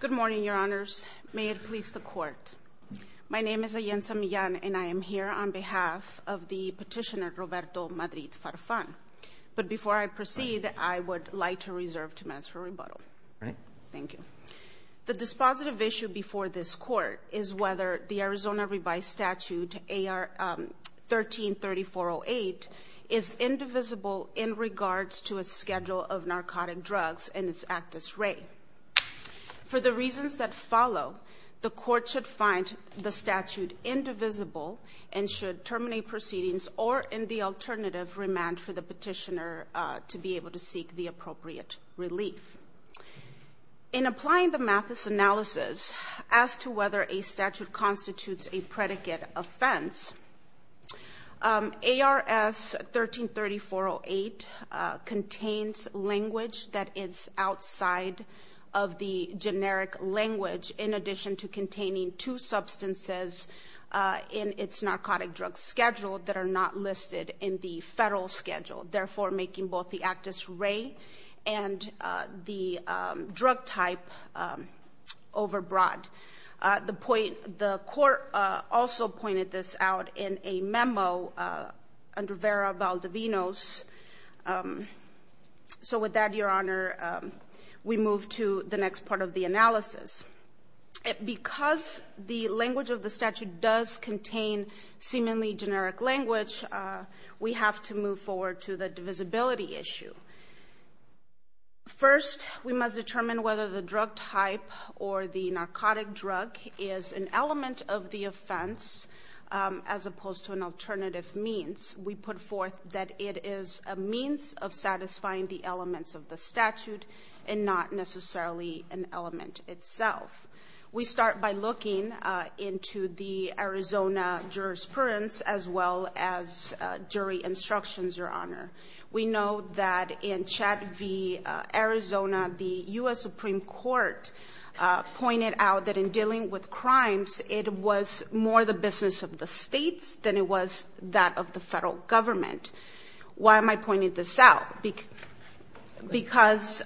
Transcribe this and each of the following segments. Good morning, Your Honors. May it please the Court. My name is Ayensa Millan, and I am here on behalf of the petitioner Roberto Madrid-Farfan. But before I proceed, I would like to reserve two minutes for rebuttal. Thank you. The dispositive issue before this Court is whether the Arizona Revised Statute AR 13-3408 is indivisible in regards to its schedule of narcotic drugs and its actus rei. For the reasons that follow, the Court should find the statute indivisible and should terminate proceedings or, in the alternative, remand for the petitioner to be able to seek the appropriate relief. In applying the Mathis analysis as to whether a statute constitutes a predicate offense, ARS 13-3408 contains language that is outside of the generic language, in addition to containing two substances in its narcotic drug schedule that are not listed in the federal schedule, therefore making both the actus rei and the The Court also pointed this out in a memo under Vera Valdivinos. So with that, Your Honor, we move to the next part of the analysis. Because the language of the statute does contain seemingly generic language, we have to move forward to the divisibility issue. First, we must determine whether the drug type or the narcotic drug is an element of the offense as opposed to an alternative means. We put forth that it is a means of satisfying the elements of the statute and not necessarily an element itself. We start by looking into the Arizona jurisprudence as well as jury instructions, Your Honor. We know that in Arizona, the U.S. Supreme Court pointed out that in dealing with crimes, it was more the business of the states than it was that of the federal government. Why am I pointing this out? Because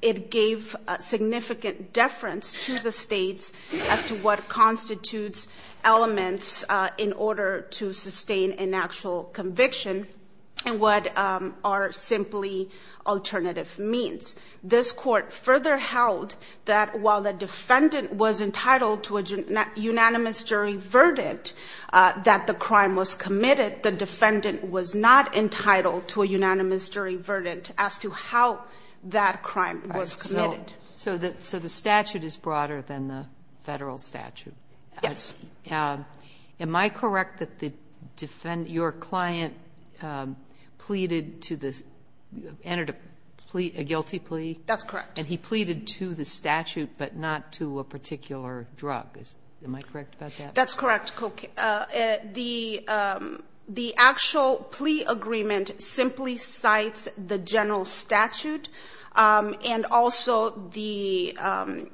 it gave significant deference to the states as to what constitutes elements in order to sustain an actual conviction and what are simply alternative means. This Court further held that while the defendant was entitled to a unanimous jury verdict that the crime was committed, the defendant was not entitled to a unanimous jury verdict as to how that crime was committed. So the statute is broader than the federal statute. Yes. Am I correct that the defendant, your client pleaded to the, entered a guilty plea? That's correct. And he pleaded to the statute but not to a particular drug. Am I correct about that? That's correct, Coke. The actual plea agreement simply cites the general statute and also the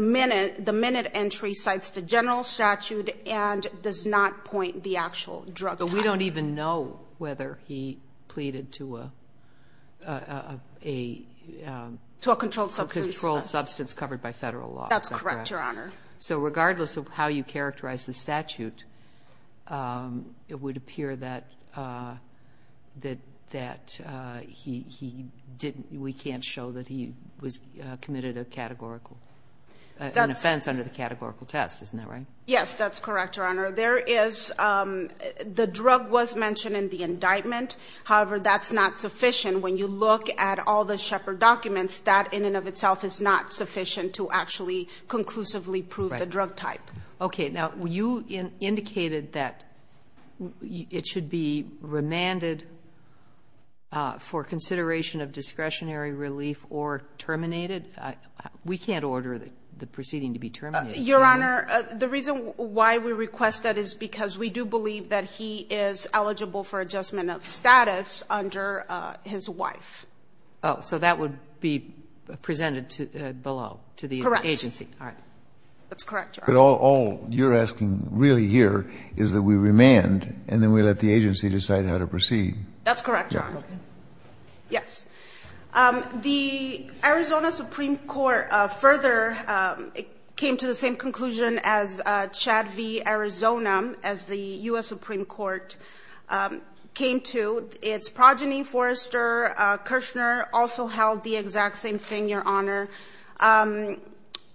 minute entry cites the general statute and does not point the actual drug title. But we don't even know whether he pleaded to a controlled substance covered by federal law. Is that correct? That's correct, Your Honor. So regardless of how you characterize the statute, it would appear that he didn't, we can't show that he was committed a categorical, an offense under the categorical test. Isn't that right? Yes, that's correct, Your Honor. There is, the drug was mentioned in the indictment. However, that's not sufficient. When you look at all the Shepard documents, that in and of itself is not sufficient to actually conclusively prove the drug type. Right. Okay. Now, you indicated that it should be remanded for consideration of discretionary relief or terminated. We can't order the proceeding to be terminated. Your Honor, the reason why we request that is because we do believe that he is eligible for adjustment of status under his wife. Oh, so that would be presented below to the agency. Correct. All right. That's correct, Your Honor. But all you're asking really here is that we remand and then we let the agency decide how to proceed. That's correct, Your Honor. Okay. Yes. The Arizona Supreme Court further came to the same conclusion as Chad v. Arizona as the U.S. Supreme Court came to. Its progeny, Forrester Kirshner, also held the exact same thing, Your Honor.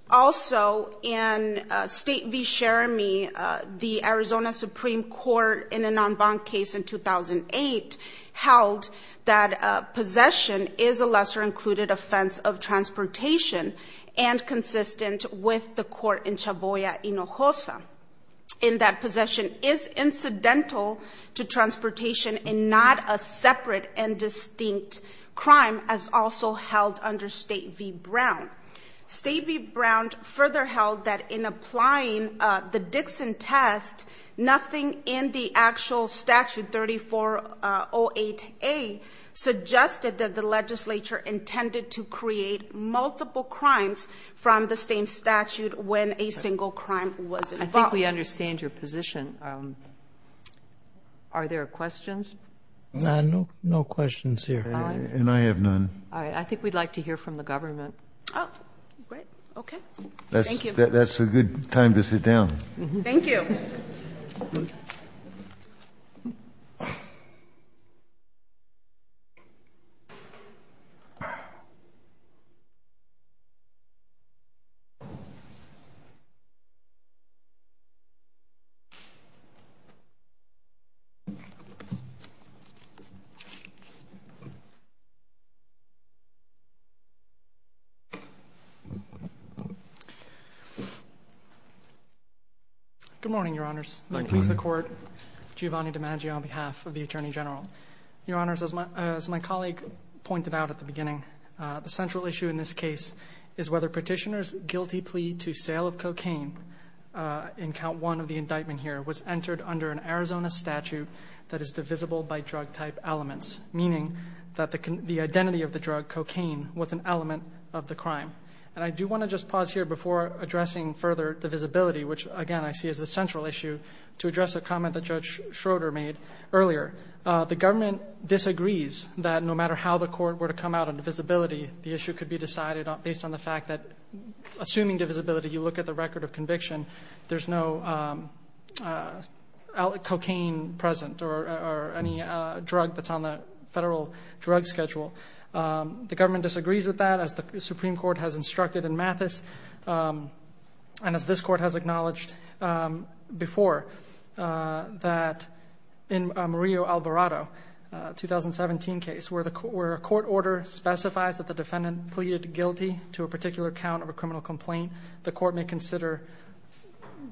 Also, in State v. Sheremy, the Arizona Supreme Court in a non-bond case in 2008 held that possession is a lesser-included offense of transportation and consistent with the court in Chavoya, Hinojosa, and that possession is incidental to transportation and not a separate and distinct crime as also held under State v. Brown. State v. Brown further held that in applying the Dixon test, nothing in the actual statute, 3408A, suggested that the a single crime was involved. I think we understand your position. Are there questions? No questions here. And I have none. I think we'd like to hear from the government. Oh, great. Okay. Thank you. That's a good time to sit down. Thank you. Good morning, Your Honors. I please the Court. Giovanni DiMaggio on behalf of the Attorney General. Your Honors, as my colleague pointed out at the beginning, the central issue in this case is whether Petitioner's guilty plea to sale of cocaine in Count 1 of the indictment here was entered under an Arizona statute that is divisible by drug-type elements, meaning that the identity of the drug, cocaine, was an element of the crime. And I do want to just pause here before addressing further divisibility, which, again, I see as the central issue, to address a comment that Judge Schroeder made earlier. The government disagrees that no matter how the Court were to come out on divisibility, the issue could be decided based on the fact that, assuming divisibility, you look at the record of conviction, there's no cocaine present or any drug that's on the federal drug schedule. The government disagrees with that, as the Supreme Court has instructed in Mathis, and as this Court has acknowledged before, that in a Murillo-Alvarado 2017 case, where a court order specifies that the defendant pleaded guilty to a particular count of a criminal complaint, the Court may consider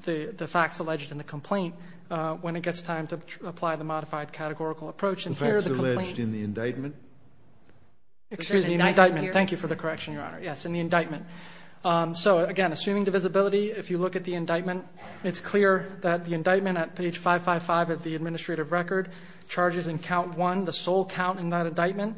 the facts alleged in the complaint when it gets time to apply the modified categorical approach. And here, the complaint... The facts alleged in the indictment? Excuse me, in the indictment. In the indictment here? Thank you for the correction, Your Honor. Yes, in the indictment. So, again, assuming divisibility, if you look at the indictment, it's clear that the indictment at page 555 of the administrative record charges in count one the sole count in that indictment,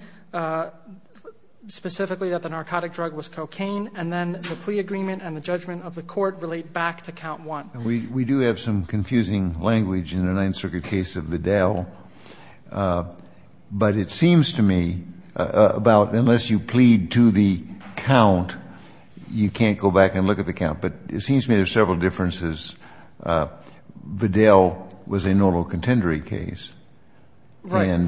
specifically that the narcotic drug was cocaine, and then the plea agreement and the judgment of the Court relate back to count one. We do have some confusing language in the Ninth Circuit case of Vidal, but it seems to me about, unless you plead to the count, you can't go back and look at the count. But it seems to me there are several differences. Vidal was a normal contendery case. Right.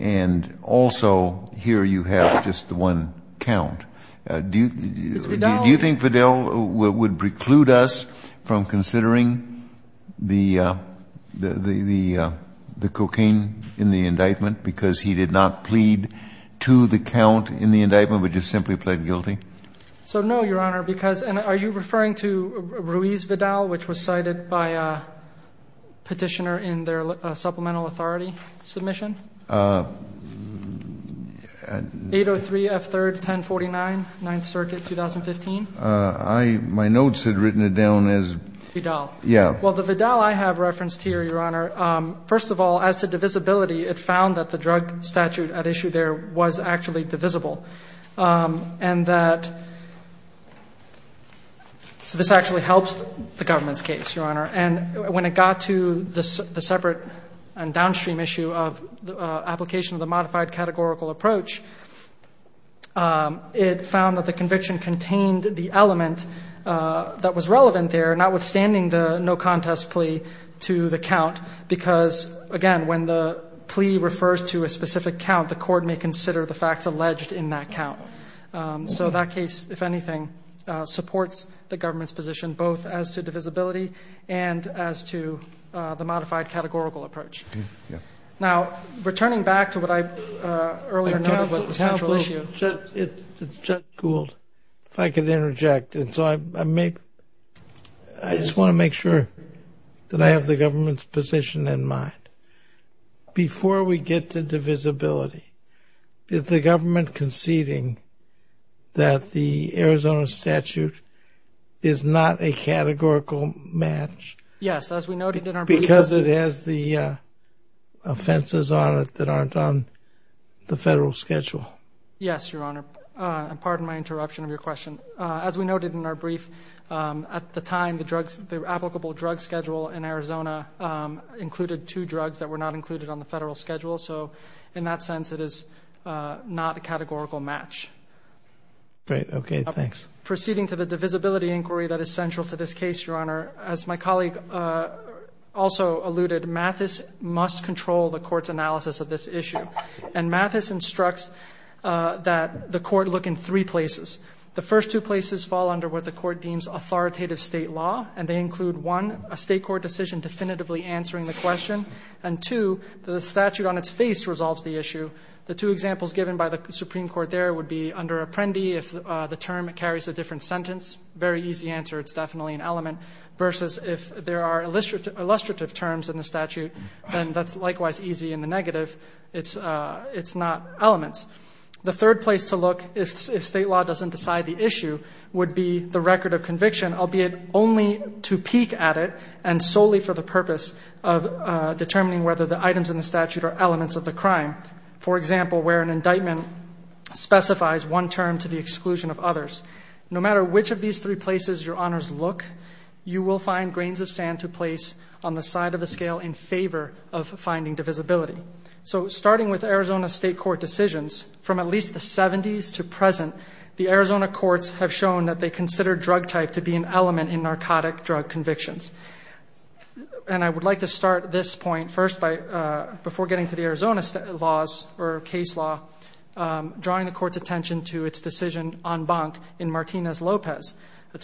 And also, here you have just the one count. Do you think Vidal would preclude us from considering the cocaine in the indictment because he did not plead to the count in the indictment, but just simply pled guilty? So, no, Your Honor, because — and are you referring to Ruiz Vidal, which was cited by a petitioner in their supplemental authority submission? 803 F. 3rd, 1049, Ninth Circuit, 2015. I — my notes had written it down as — Vidal. Yeah. Well, the Vidal I have referenced here, Your Honor, first of all, as to divisibility, it found that the drug statute at issue there was actually divisible, and that — so this actually helps the government's case, Your Honor. And when it got to the separate and downstream issue of the application of the modified categorical approach, it found that the conviction contained the element that was relevant there, notwithstanding the no-contest plea to the count, because, again, when the plea refers to a specific count, the court may consider the facts alleged in that count. So that case, if anything, supports the government's position both as to divisibility and as to the modified categorical approach. Now, returning back to what I earlier noted was the central issue — I just want to make sure that I have the government's position in mind. Before we get to divisibility, is the government conceding that the Arizona statute is not a categorical match — Yes, as we noted in our brief —— because it has the offenses on it that aren't on the federal schedule? Yes, Your Honor, and pardon my interruption of your question. As we noted in our brief, at the time, the applicable drug schedule in Arizona included two drugs that were not included on the federal schedule. So in that sense, it is not a categorical match. Great. Okay. Thanks. Proceeding to the divisibility inquiry that is central to this case, Your Honor, as my colleague also alluded, Mathis must control the court's analysis of this issue. And Mathis instructs that the court look in three places. The first two places fall under what the court deems authoritative state law. And they include, one, a state court decision definitively answering the question. And two, the statute on its face resolves the issue. The two examples given by the Supreme Court there would be under Apprendi, if the term carries a different sentence. Very easy answer. It's definitely an element. Versus if there are illustrative terms in the statute, then that's likewise easy in the negative. It's not elements. The third place to look, if state law doesn't decide the issue, would be the record of conviction, albeit only to peek at it and solely for the purpose of determining whether the items in the statute are elements of the crime. For example, where an indictment specifies one term to the exclusion of others. No matter which of these three places Your Honors look, you will find grains of sand to place on the side of the scale in favor of finding divisibility. So starting with Arizona state court decisions, from at least the 70s to present, the Arizona courts have shown that they consider drug type to be an element in narcotic drug convictions. And I would like to start this point first by, before getting to the Arizona laws or case law, drawing the court's attention to its decision en banc in Martinez-Lopez, the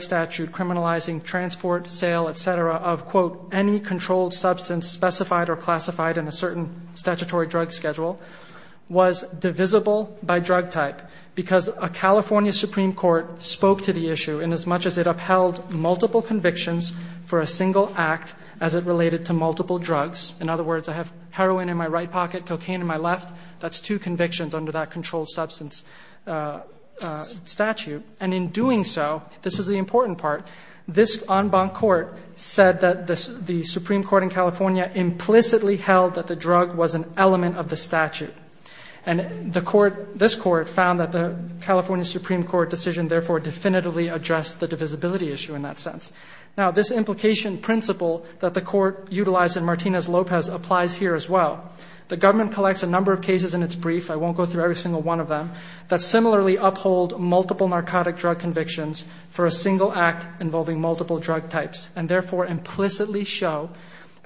statute criminalizing transport, sale, et cetera, of quote, any controlled substance specified or classified in a certain statutory drug schedule, was divisible by drug type. Because a California Supreme Court spoke to the issue in as much as it upheld multiple convictions for a single act as it related to multiple drugs. In other words, I have heroin in my right pocket, cocaine in my left, that's two convictions under that controlled substance statute. And in doing so, this is the important part, this en banc court said that the Supreme Court in California implicitly held that the drug was an element of the statute. And the court, this court, found that the California Supreme Court decision therefore definitively addressed the divisibility issue in that sense. Now this implication principle that the court utilized in Martinez-Lopez applies here as well. The government collects a number of cases in its brief, I won't go through every single one of them, that similarly uphold multiple narcotic drug convictions for a single act involving multiple drug types. And therefore implicitly show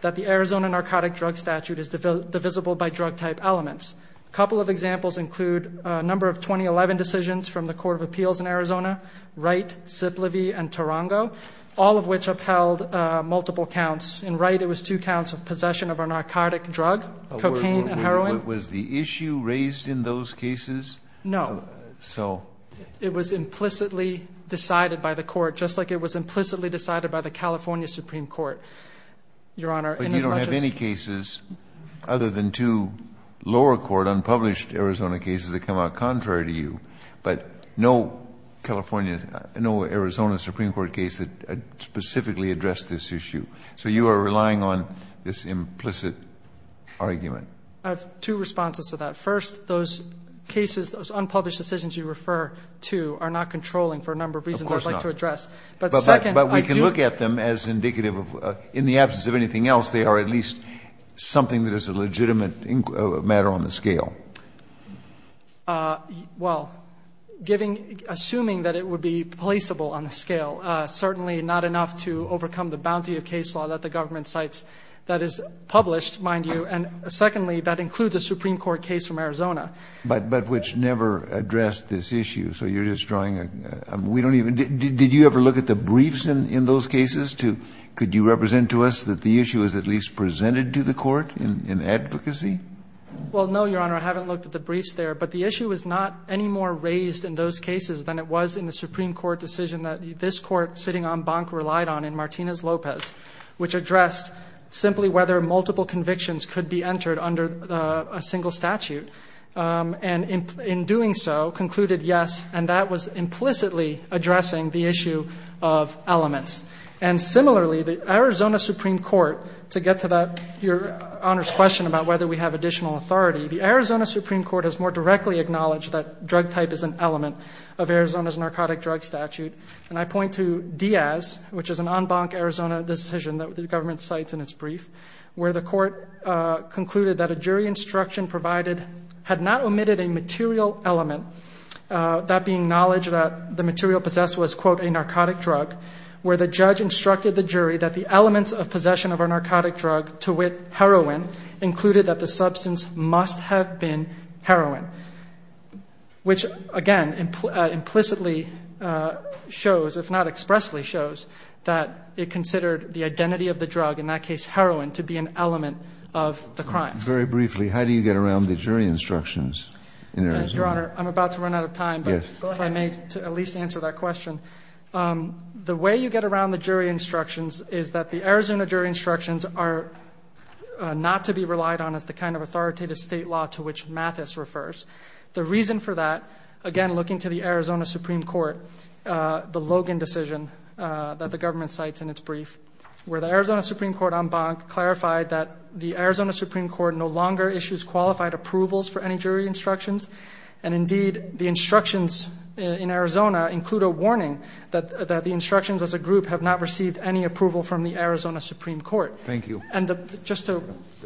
that the Arizona Narcotic Drug Statute is divisible by drug type elements. A couple of examples include a number of 2011 decisions from the Court of Appeals in Arizona, Wright, Zip Levy, and Tarango, all of which upheld multiple counts. In Wright it was two counts of possession of a narcotic drug, cocaine and heroin. Kennedy, was the issue raised in those cases? No. So? It was implicitly decided by the court, just like it was implicitly decided by the California Supreme Court, Your Honor. But you don't have any cases other than two lower court unpublished Arizona cases that come out contrary to you, but no California, no Arizona Supreme Court case that specifically addressed this issue. So you are relying on this implicit argument. I have two responses to that. First, those cases, those unpublished decisions you refer to are not controlling for a number of reasons I'd like to address. Of course not. But second, I do... But we can look at them as indicative of, in the absence of anything else, they are at least something that is a legitimate matter on the scale. Well, giving, assuming that it would be placeable on the scale, certainly not enough to overcome the bounty of case law that the government cites that is published, mind you. And secondly, that includes a Supreme Court case from Arizona. But which never addressed this issue. So you're just drawing a... We don't even... Did you ever look at the briefs in those cases to... Could you represent to us that the issue is at least presented to the court in advocacy? Well, no, Your Honor. I haven't looked at the briefs there. But the issue is not any more raised in those cases than it was in the Supreme Court decision that this Court sitting on Bank relied on in Martinez-Lopez, which addressed simply whether multiple convictions could be entered under a single statute. And in doing so, concluded yes. And that was implicitly addressing the issue of elements. And similarly, the Arizona Supreme Court, to get to that, Your Honor's question about whether we have additional authority, the Arizona Supreme Court has more directly acknowledged that drug type is an element of Arizona's narcotic drug statute. And I point to Diaz, which is an en banc Arizona decision that the government cites in its brief, where the court concluded that a jury instruction provided had not omitted a material element, that being knowledge that the material possessed was, quote, a narcotic drug, where the judge instructed the jury that the elements of possession of a narcotic drug, to wit, heroin, included that the substance must have been heroin, which, again, implicitly shows, if not expressly shows, that it considered the identity of the drug, in that case, heroin, to be an element of the crime. Very briefly, how do you get around the jury instructions in Arizona? Your Honor, I'm about to run out of time, but if I may, to at least answer that question, the way you get around the jury instructions is that the Arizona jury instructions include a warning that the instructions, as a group, have not received Well, the Arizona Supreme Court, as a group, has not received any approval from the Arizona Supreme Court. And the reason for that, again, looking to the Arizona Supreme Court, the Logan decision that the government cites in its brief, where the Arizona Supreme Court, en banc, clarified that the Arizona Supreme Court no longer issues qualified approvals for any jury instructions. And, indeed, the instructions in Arizona include a warning that the instructions, as a group, have not received any approval from the Arizona Supreme Court. Thank you. Just to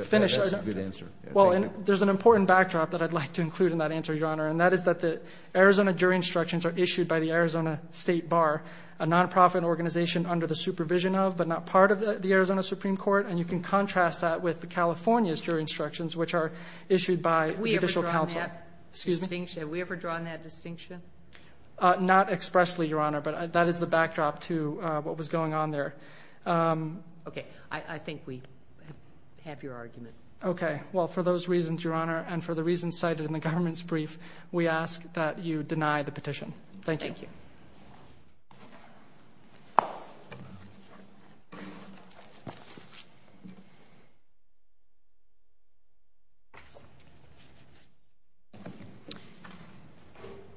finish. That's a good answer. Thank you. Well, there's an important backdrop that I'd like to include in that answer, Your Honor, and that is that the Arizona jury instructions are issued by the Arizona State Bar, a nonprofit organization under the supervision of, but not part of, the Arizona Supreme Court, and you can contrast that with the California's jury instructions, which are issued by judicial counsel. Excuse me? Have we ever drawn that distinction? Not expressly, Your Honor, but that is the backdrop to what was going on there. Okay. I think we have your argument. Okay. Well, for those reasons, Your Honor, and for the reasons cited in the government's brief, we ask that you deny the petition. Thank you. Thank you.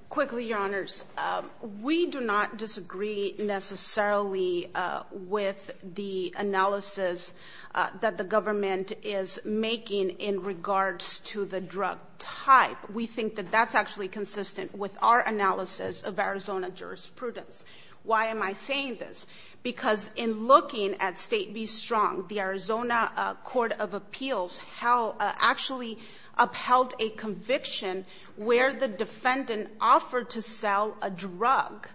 Quickly, Your Honors. We do not disagree necessarily with the analysis that the government is making in regards to the drug type. We think that that's actually consistent with our analysis of Arizona jurisprudence. Why am I saying this? Because in looking at State v. Strong, the Arizona Court of Appeals actually upheld a conviction where the defendant offered to sell a drug.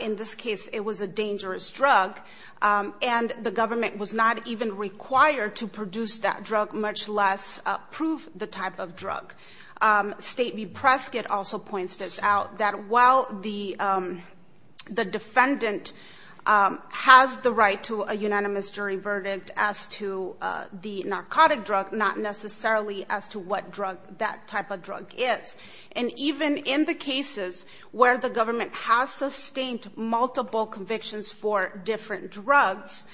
In this case, it was a dangerous drug, and the government was not even required to produce that drug, much less approve the type of drug. State v. Prescott also points this out, that while the defendant has the right to a unanimous jury verdict as to the narcotic drug, not necessarily as to what drug that type of drug is. And even in the cases where the government has sustained multiple convictions for different drugs,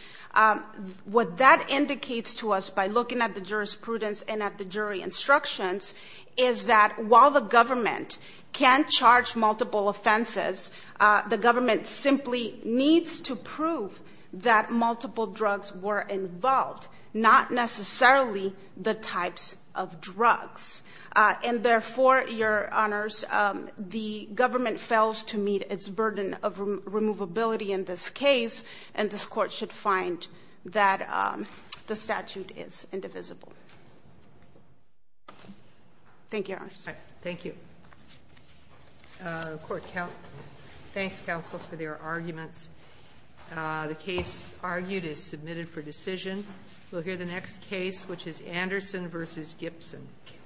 what that indicates to us by looking at the jurisprudence and at the jury instructions is that while the government can charge multiple offenses, the government simply needs to prove that multiple drugs were involved, not necessarily the types of drugs. And therefore, Your Honors, the government fails to meet its burden of Thank you, Your Honors. Thank you. Court, thanks, counsel, for their arguments. The case argued is submitted for decision. We'll hear the next case, which is Anderson v. Gibson.